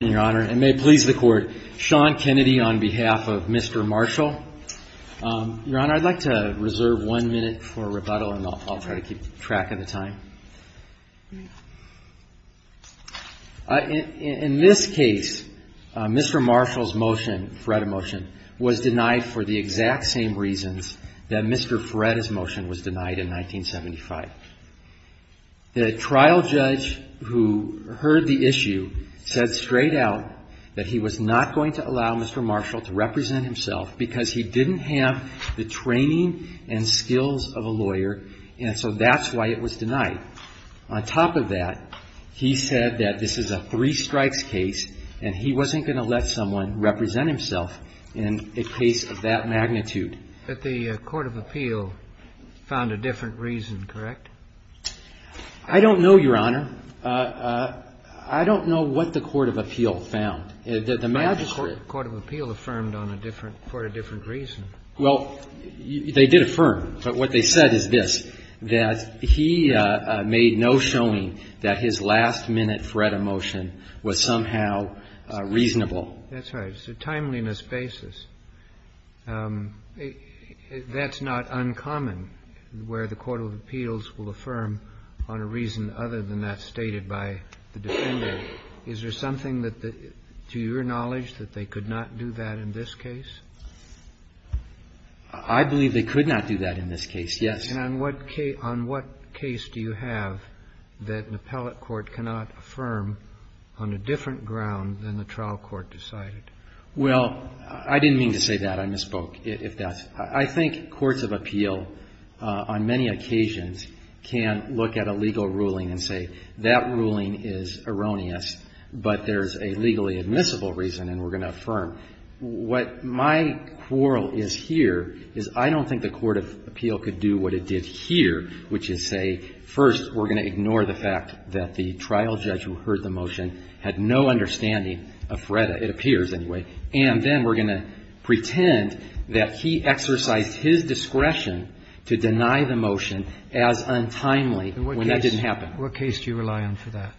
Your Honor, and may it please the Court, Sean Kennedy on behalf of Mr. Marshall. Your Honor, I'd like to reserve one minute for rebuttal, and I'll try to keep track of the time. In this case, Mr. Marshall's motion, Faretta motion, was denied for the exact same reasons that Mr. Faretta's motion was denied in 1975. The trial judge who heard the issue said straight out that he was not going to allow Mr. Marshall to represent himself because he didn't have the training and skills of a lawyer, and so that's why it was denied. On top of that, he said that this is a three strikes case, and he wasn't going to let someone represent himself in a case of that magnitude. But the Court of Appeal found a different reason, correct? I don't know, Your Honor. I don't know what the Court of Appeal found. The magistrate – The Court of Appeal affirmed on a different – for a different reason. Well, they did affirm, but what they said is this, that he made no showing that his last-minute Faretta motion was somehow reasonable. That's right. It's a timeliness basis. That's not uncommon where the Court of Appeals will affirm on a reason other than that stated by the defender. Is there something that, to your knowledge, that they could not do that in this case? I believe they could not do that in this case, yes. And on what case – on what case do you have that an appellate court cannot affirm on a different ground than the trial court decided? Well, I didn't mean to say that. I misspoke, if that's – I think courts of appeal on many occasions can look at a legal ruling and say, that ruling is erroneous, but there's a legally admissible reason and we're going to affirm. What my quarrel is here is I don't think the Court of Appeal could do what it did here, which is say, first, we're going to ignore the fact that the trial judge who heard the motion had no understanding of Faretta. It appears, anyway. And then we're going to pretend that he exercised his discretion to deny the motion as untimely when that didn't happen. What case do you rely on for that?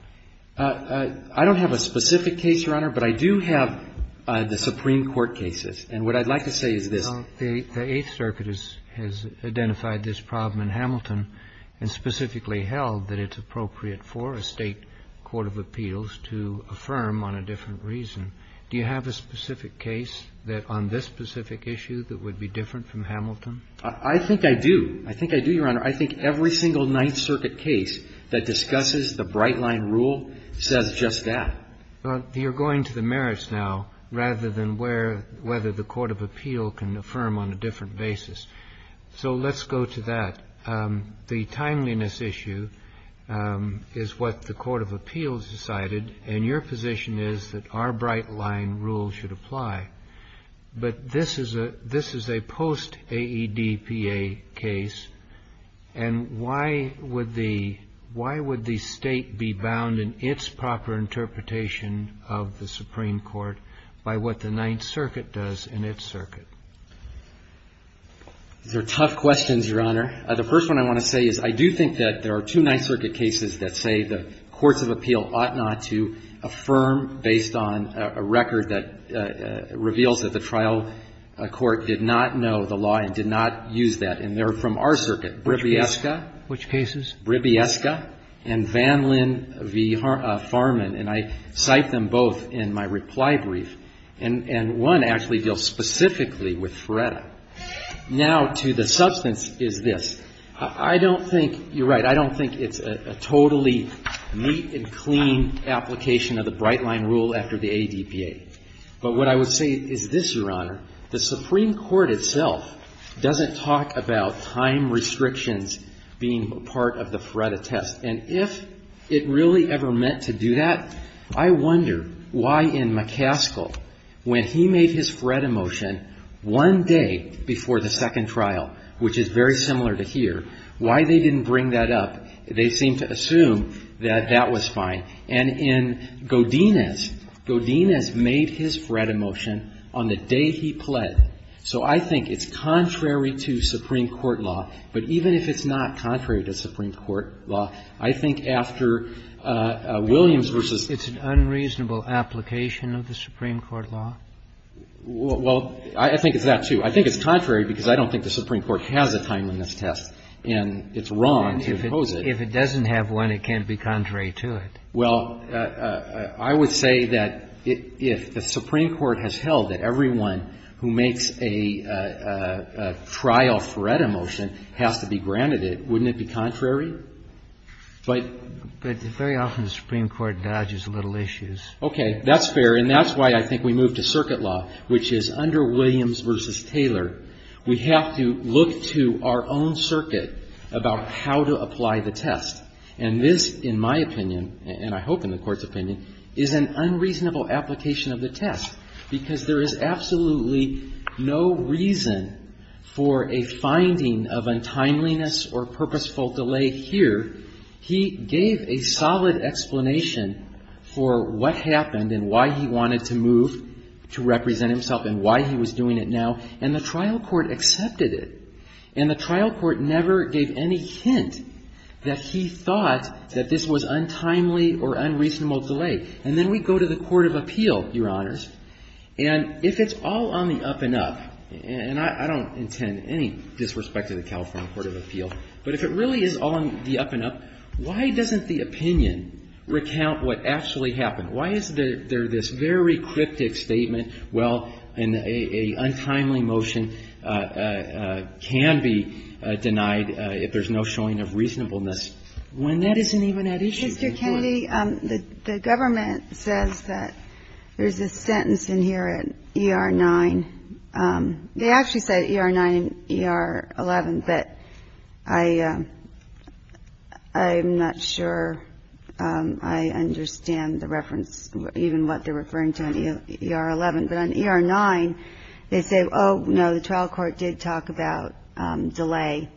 I don't have a specific case, Your Honor, but I do have the Supreme Court cases. And what I'd like to say is this. The Eighth Circuit has identified this problem in Hamilton and specifically held that it's appropriate for a State Court of Appeals to affirm on a different reason. Do you have a specific case that on this specific issue that would be different from Hamilton? I think I do. I think I do, Your Honor. I think every single Ninth Circuit case that discusses the Bright Line rule says just that. Well, you're going to the merits now rather than where – whether the Court of Appeal can affirm on a different basis. So let's go to that. The timeliness issue is what the Court of Appeals decided, and your position is that our Bright Line rule should apply. But this is a – this is a post-AEDPA case. And why would the – why would the State be bound in its proper interpretation of the Supreme Court by what the Ninth Circuit does in its circuit? These are tough questions, Your Honor. The first one I want to say is I do think that there are two Ninth Circuit cases that say the courts of appeal ought not to affirm based on a record that reveals that the trial court did not know the law and did not use that. And they're from our circuit, Bribiesca. Which cases? Bribiesca and Vanlin v. Farman. And I cite them both in my reply brief. And one actually deals specifically with Feretta. Now, to the substance is this. I don't think – you're right. I don't think it's a totally neat and clean application of the Bright Line rule after the AEDPA. But what I would say is this, Your Honor. The Supreme Court itself doesn't talk about time restrictions being part of the Feretta test. And if it really ever meant to do that, I wonder why in McCaskill, when he made his Feretta motion one day before the second trial, which is very similar to here, why they didn't bring that up. They seemed to assume that that was fine. And in Godinez, Godinez made his Feretta motion on the day he pled. So I think it's contrary to Supreme Court law. But even if it's not contrary to Supreme Court law, I think after Williams v. It's an unreasonable application of the Supreme Court law? Well, I think it's that, too. I think it's contrary because I don't think the Supreme Court has a time on this test. And it's wrong to impose it. If it doesn't have one, it can't be contrary to it. Well, I would say that if the Supreme Court has held that everyone who makes a trial Feretta motion has to be granted it, wouldn't it be contrary? But very often the Supreme Court dodges little issues. Okay. That's fair. And that's why I think we move to circuit law, which is under Williams v. Taylor, we have to look to our own circuit about how to apply the test. And this, in my opinion, and I hope in the Court's opinion, is an unreasonable application of the test because there is absolutely no reason for a finding of untimeliness or purposeful delay here. He gave a solid explanation for what happened and why he wanted to move to represent himself and why he was doing it now. And the trial court accepted it. And the trial court never gave any hint that he thought that this was untimely or unreasonable delay. And then we go to the Court of Appeal, Your Honors, and if it's all on the up and up, and I don't intend any disrespect to the California Court of Appeal, but if it really is all on the up and up, why doesn't the opinion recount what actually happened? Why is there this very cryptic statement? Well, an untimely motion can be denied if there's no showing of reasonableness when that isn't even at issue. Kennedy, the government says that there's a sentence in here at ER-9. They actually said ER-9 and ER-11, but I'm not sure I understand the reference, even what they're referring to in ER-11. But on ER-9, they say, oh, no, the trial court did talk about delay.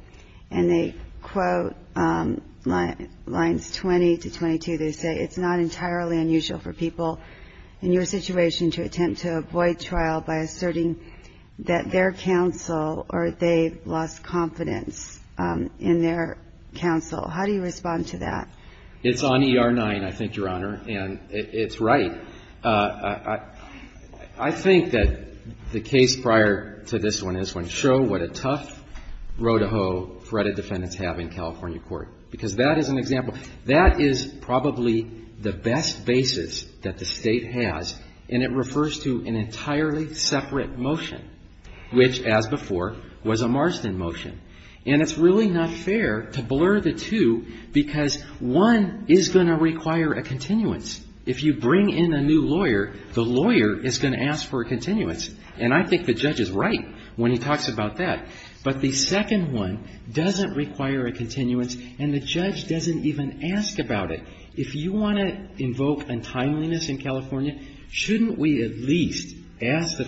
And they quote lines 20 to 22. They say, it's not entirely unusual for people in your situation to attempt to avoid trial by asserting that their counsel or they lost confidence in their counsel. How do you respond to that? It's on ER-9, I think, Your Honor, and it's right. I think that the case prior to this one is when show what a tough row-to-hoe threat of defendants have in California court, because that is an example. That is probably the best basis that the State has, and it refers to an entirely separate motion, which, as before, was a Marsden motion. And it's really not fair to blur the two, because one is going to require a continuance. If you bring in a new lawyer, the lawyer is going to ask for a continuance. And I think the judge is right when he talks about that. But the second one doesn't require a continuance, and the judge doesn't even ask about it. If you want to invoke untimeliness in California, shouldn't we at least ask the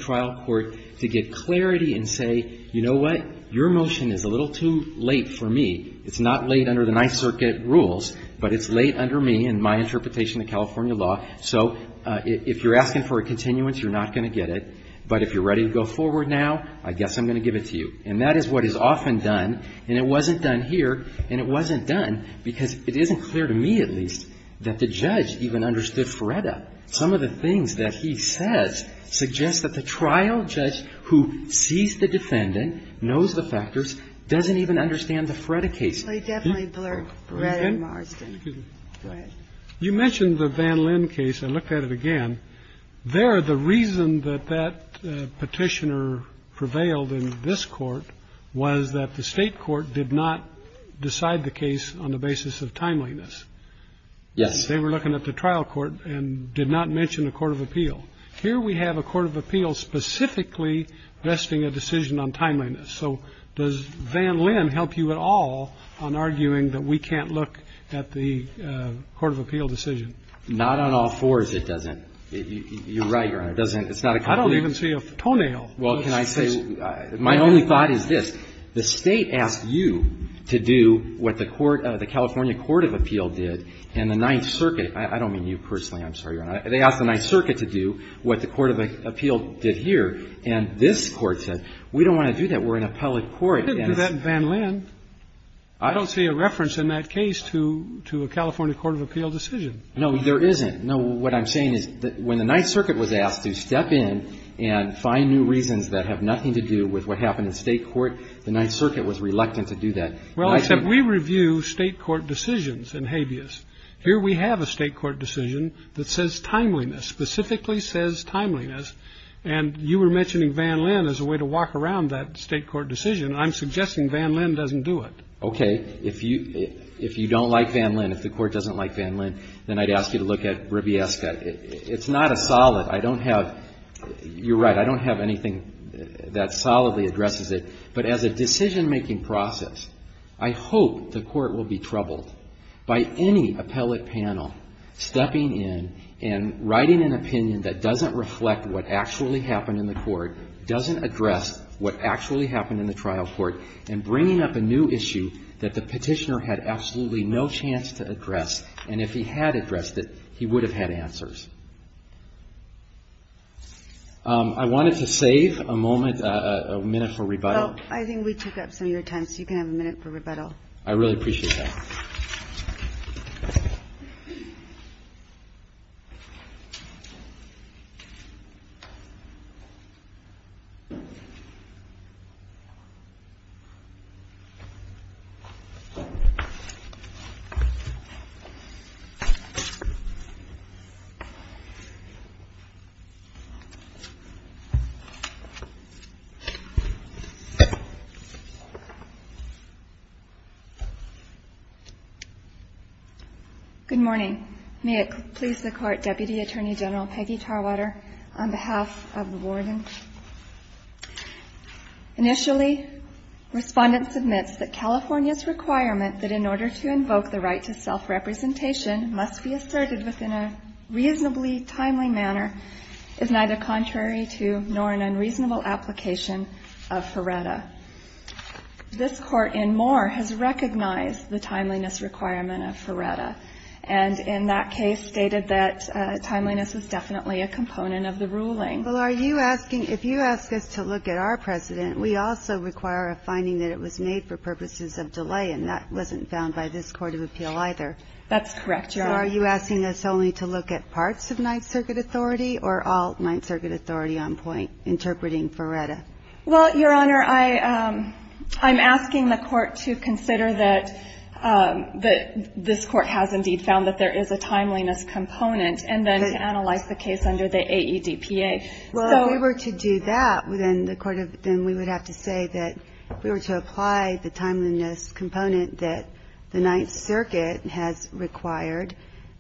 It's a little too late for me. It's not late under the Ninth Circuit rules, but it's late under me and my interpretation of California law. So if you're asking for a continuance, you're not going to get it. But if you're ready to go forward now, I guess I'm going to give it to you. And that is what is often done, and it wasn't done here, and it wasn't done because it isn't clear to me, at least, that the judge even understood FREDA. Some of the things that he says suggest that the trial judge who sees the case doesn't even understand the FREDA case. So he definitely blurred FREDA and Marsden. Go ahead. You mentioned the Van Linn case. I looked at it again. There, the reason that that Petitioner prevailed in this Court was that the State Court did not decide the case on the basis of timeliness. Yes. They were looking at the trial court and did not mention a court of appeal. Here we have a court of appeal specifically vesting a decision on timeliness. So does Van Linn help you at all on arguing that we can't look at the court of appeal decision? Not on all fours, it doesn't. You're right, Your Honor. It doesn't. It's not a complete decision. I don't even see a toenail. Well, can I say, my only thought is this. The State asked you to do what the California court of appeal did, and the Ninth Circuit – I don't mean you personally. I'm sorry, Your Honor. They asked the Ninth Circuit to do what the court of appeal did here, and this Court says, we don't want to do that. We're in a public court. I didn't do that in Van Linn. I don't see a reference in that case to a California court of appeal decision. No, there isn't. No, what I'm saying is when the Ninth Circuit was asked to step in and find new reasons that have nothing to do with what happened in State court, the Ninth Circuit was reluctant to do that. Well, except we review State court decisions in habeas. Here we have a State court decision that says timeliness, specifically says timeliness. And you were mentioning Van Linn as a way to walk around that State court decision. I'm suggesting Van Linn doesn't do it. Okay. If you don't like Van Linn, if the court doesn't like Van Linn, then I'd ask you to look at Ribiesca. It's not a solid. I don't have – you're right. I don't have anything that solidly addresses it. But as a decision-making process, I hope the court will be troubled by any appellate panel stepping in and writing an opinion that doesn't reflect what actually happened in the court, doesn't address what actually happened in the trial court, and bringing up a new issue that the petitioner had absolutely no chance to address. And if he had addressed it, he would have had answers. I wanted to save a moment, a minute for rebuttal. Well, I think we took up some of your time, so you can have a minute for rebuttal. I really appreciate that. Good morning. May it please the Court, Deputy Attorney General Peggy Tarwater, on behalf of the warden. Initially, respondent submits that California's requirement that in order to invoke the right to self-representation must be asserted within a reasonably timely manner is neither contrary to nor an unreasonable application of FRERETA. This Court in Moore has recognized the timeliness requirement of FRERETA, and in that case stated that timeliness was definitely a component of the ruling. Well, are you asking, if you ask us to look at our precedent, we also require a finding that it was made for purposes of delay, and that wasn't found by this Court of Appeal either. That's correct, Your Honor. So are you asking us only to look at parts of Ninth Circuit authority or all Ninth Circuit authority on point interpreting FRERETA? Well, Your Honor, I'm asking the Court to consider that this Court has indeed found that there is a timeliness component, and then to analyze the case under the AEDPA. Well, if we were to do that, then we would have to say that if we were to apply the timeliness component that the Ninth Circuit has required,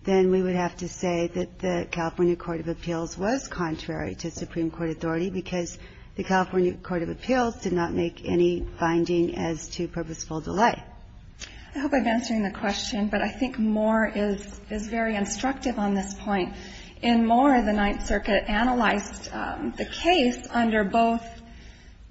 then we would have to say that the California Court of Appeals was contrary to Supreme Court authority because the California Court of Appeals did not make any finding as to purposeful delay. I hope I'm answering the question, but I think Moore is very instructive on this point. In Moore, the Ninth Circuit analyzed the case under both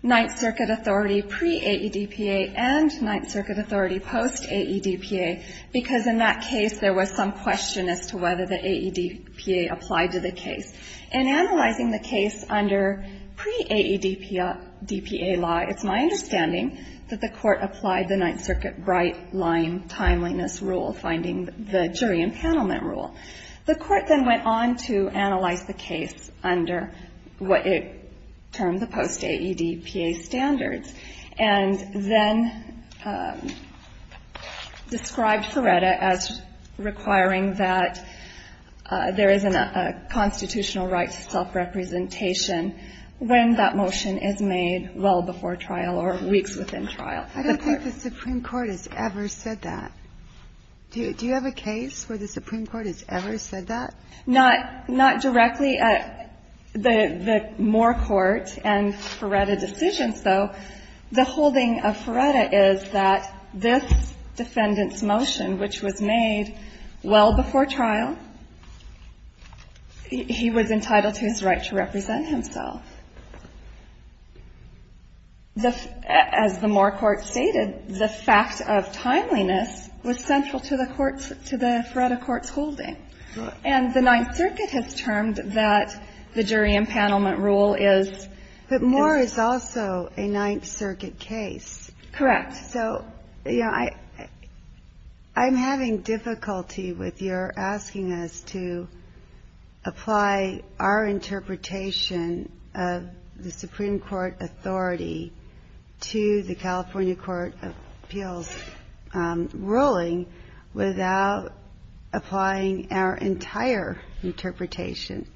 Ninth Circuit authority pre-AEDPA and Ninth Circuit authority post-AEDPA, because in that case there was some question as to whether the AEDPA applied to the case. In analyzing the case under pre-AEDPA law, it's my understanding that the Court applied the Ninth Circuit bright-line timeliness rule, finding the jury impanelment rule. The Court then went on to analyze the case under what it termed the post-AEDPA standards and then described Feretta as requiring that there is a constitutional right to self-representation when that motion is made well before trial or weeks within trial. I don't think the Supreme Court has ever said that. Do you have a case where the Supreme Court has ever said that? Not directly at the Moore court and Feretta decisions, though. The holding of Feretta is that this defendant's motion, which was made well before trial, he was entitled to his right to represent himself. As the Moore court stated, the fact of timeliness was central to the court's – to the Feretta court's holding. Okay. And the Ninth Circuit has termed that the jury impanelment rule is – But Moore is also a Ninth Circuit case. Correct. So, you know, I'm having difficulty with your asking us to apply our interpretation of the Supreme Court authority to the California Court of Appeals ruling without applying our entire interpretation.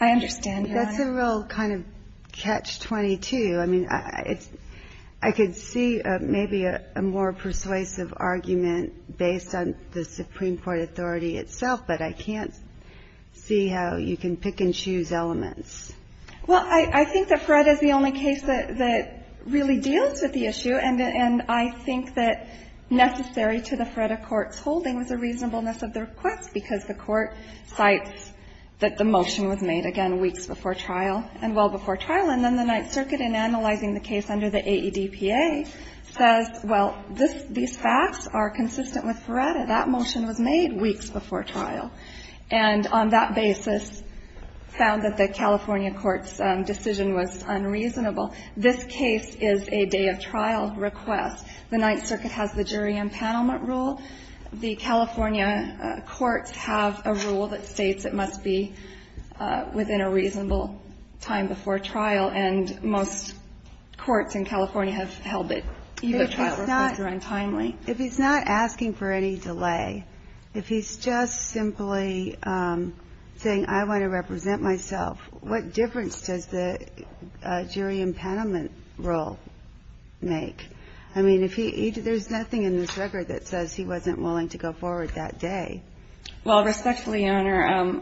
I understand, Your Honor. That's a real kind of catch-22. I mean, I could see maybe a more persuasive argument based on the Supreme Court authority itself, but I can't see how you can pick and choose elements. Well, I think that Feretta is the only case that really deals with the issue. And I think that necessary to the Feretta court's holding was a reasonableness of the request, because the court cites that the motion was made, again, weeks before trial, and well before trial. And then the Ninth Circuit, in analyzing the case under the AEDPA, says, well, these facts are consistent with Feretta. That motion was made weeks before trial. And on that basis, found that the California court's decision was unreasonable. This case is a day-of-trial request. The Ninth Circuit has the jury empanelment rule. The California courts have a rule that states it must be within a reasonable time before trial. And most courts in California have held that either trial request or untimely. If he's not asking for any delay, if he's just simply saying, I want to represent myself, what difference does the jury empanelment rule make? I mean, if he – there's nothing in this record that says he wasn't willing to go forward that day. Well, respectfully, Your Honor,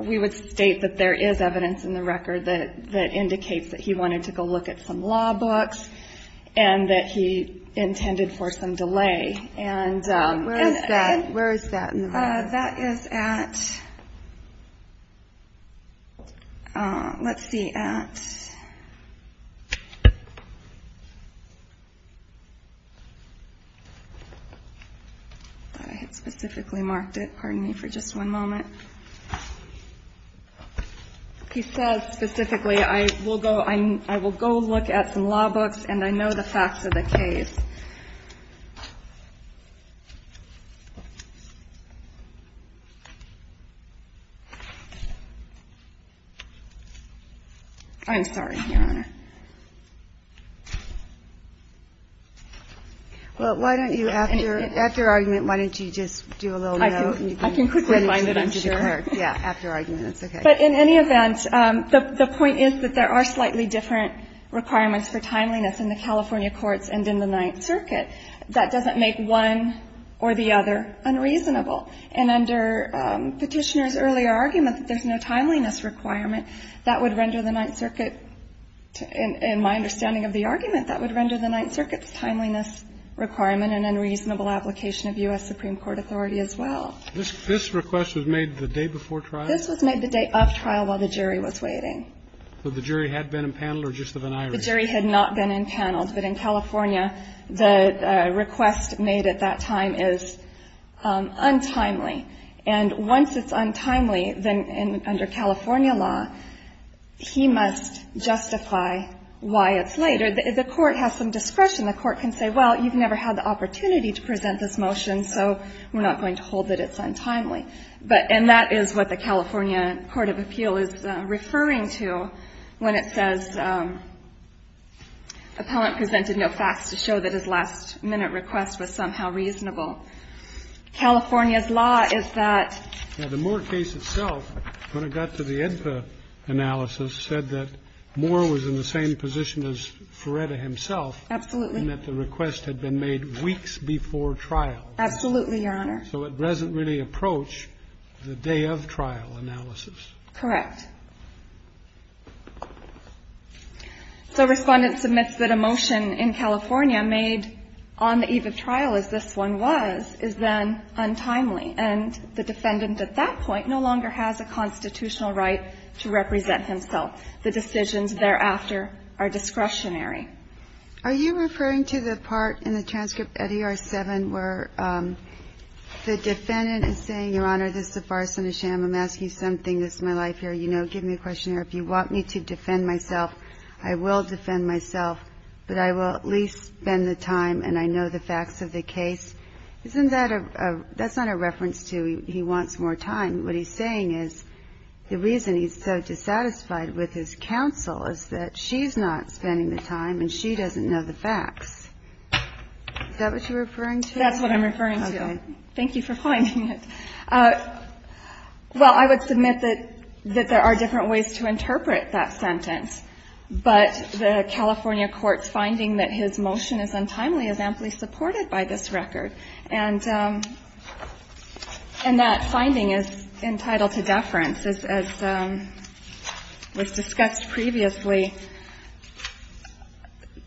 we would state that there is evidence in the record that indicates that he wanted to go look at some law books and that he intended for some delay. And where is that? Where is that in the record? That is at – let's see, at – I thought I had specifically marked it. Pardon me for just one moment. He says specifically, I will go – I will go look at some law books and I know the facts of the case. I'm sorry, Your Honor. Well, why don't you, after argument, why don't you just do a little note? I can quickly remind it, I'm sure. Yeah, after argument. It's okay. But in any event, the point is that there are slightly different requirements for timeliness in the California courts and in the Ninth Circuit. That doesn't make one or the other unreasonable. And under Petitioner's earlier argument that there's no timeliness requirement, that would render the Ninth Circuit – in my understanding of the argument, that would render the Ninth Circuit's timeliness requirement an unreasonable application of U.S. Supreme Court authority as well. This request was made the day before trial? This was made the day of trial while the jury was waiting. So the jury had been impaneled or just of an iris? The jury had not been impaneled. But in California, the request made at that time is untimely. And once it's untimely, then under California law, he must justify why it's later. The court has some discretion. The court can say, well, you've never had the opportunity to present this motion, so we're not going to hold that it's untimely. And that is what the California court of appeal is referring to when it says, Appellant presented no facts to show that his last-minute request was somehow reasonable. California's law is that the Moore case itself, when it got to the IDPA analysis, said that Moore was in the same position as Feretta himself. Absolutely. And that the request had been made weeks before trial. Absolutely, Your Honor. So it doesn't really approach the day-of-trial analysis. Correct. So Respondent submits that a motion in California made on the eve of trial, as this one was, is then untimely. And the defendant at that point no longer has a constitutional right to represent himself. The decisions thereafter are discretionary. Are you referring to the part in the transcript at ER-7 where the defendant is saying, Your Honor, this is a farce and a sham. I'm asking you something. This is my life here. You know, give me a questionnaire. If you want me to defend myself, I will defend myself. But I will at least spend the time and I know the facts of the case. Isn't that a – that's not a reference to he wants more time. What he's saying is the reason he's so dissatisfied with his counsel is that she's not spending the time and she doesn't know the facts. Is that what you're referring to? That's what I'm referring to. Okay. Thank you for finding it. Well, I would submit that there are different ways to interpret that sentence. But the California court's finding that his motion is untimely is amply supported by this record. And that finding is entitled to deference. As was discussed previously,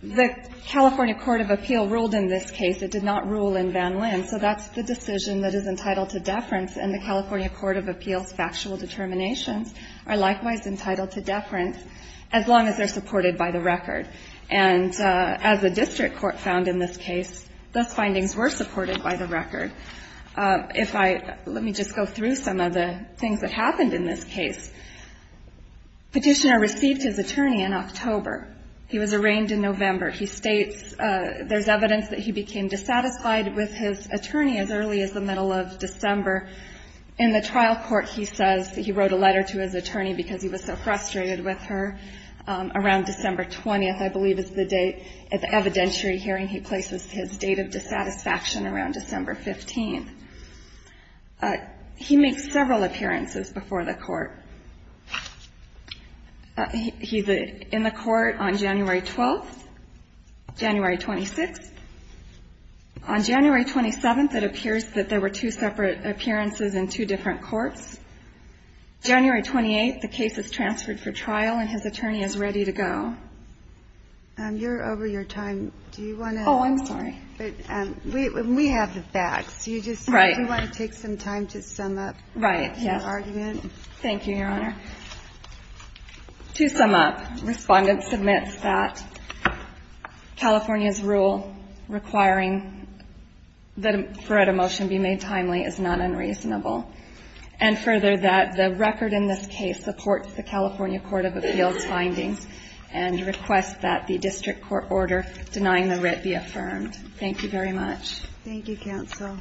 the California court of appeal ruled in this case. It did not rule in Van Lynn. So that's the decision that is entitled to deference. And the California court of appeal's factual determinations are likewise entitled to deference as long as they're supported by the record. And as the district court found in this case, those findings were supported by the record. Let me just go through some of the things that happened in this case. Petitioner received his attorney in October. He was arraigned in November. He states there's evidence that he became dissatisfied with his attorney as early as the middle of December. In the trial court, he says he wrote a letter to his attorney because he was so frustrated with her around December 20th, I believe is the date. At the evidentiary hearing, he places his date of dissatisfaction around December 15th. He makes several appearances before the court. He's in the court on January 12th, January 26th. On January 27th, it appears that there were two separate appearances in two different courts. January 28th, the case is transferred for trial, and his attorney is ready to go. You're over your time. Do you want to? Oh, I'm sorry. We have the facts. Right. Do you want to take some time to sum up your argument? Thank you, Your Honor. To sum up, Respondent submits that California's rule requiring that a motion be made timely is not unreasonable, and further that the record in this case supports the district court order denying the writ be affirmed. Thank you very much. Thank you, counsel.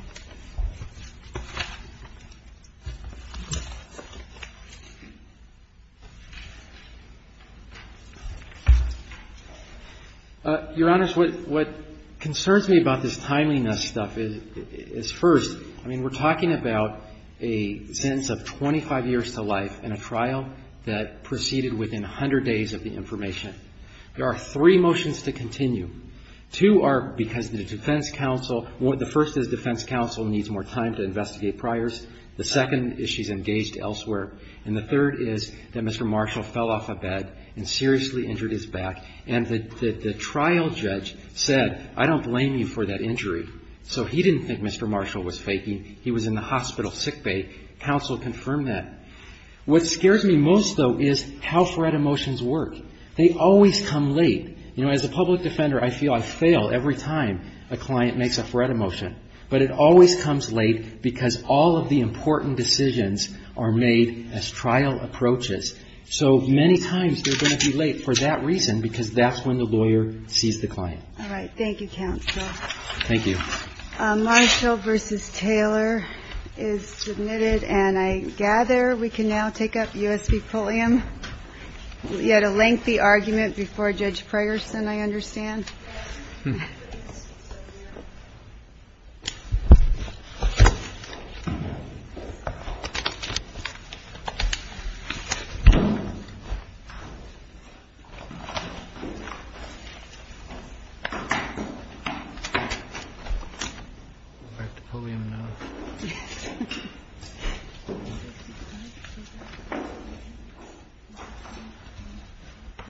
Your Honors, what concerns me about this timeliness stuff is, first, I mean, we're talking about a sentence of 25 years to life in a trial that proceeded within 100 days of the information. There are three motions to continue. Two are because the defense counsel, the first is defense counsel needs more time to investigate priors. The second is she's engaged elsewhere. And the third is that Mr. Marshall fell off a bed and seriously injured his back. And the trial judge said, I don't blame you for that injury. So he didn't think Mr. Marshall was faking. He was in the hospital sick bay. Counsel confirmed that. What scares me most, though, is how FREDA motions work. They always come late. You know, as a public defender, I feel I fail every time a client makes a FREDA motion. But it always comes late because all of the important decisions are made as trial approaches. So many times they're going to be late for that reason because that's when the lawyer sees the client. All right. Thank you, counsel. Thank you. Marshall v. Taylor is submitted. And I gather we can now take up U.S. v. Pulliam. Yet a lengthy argument before Judge Priorson, I understand. Back to Pulliam now.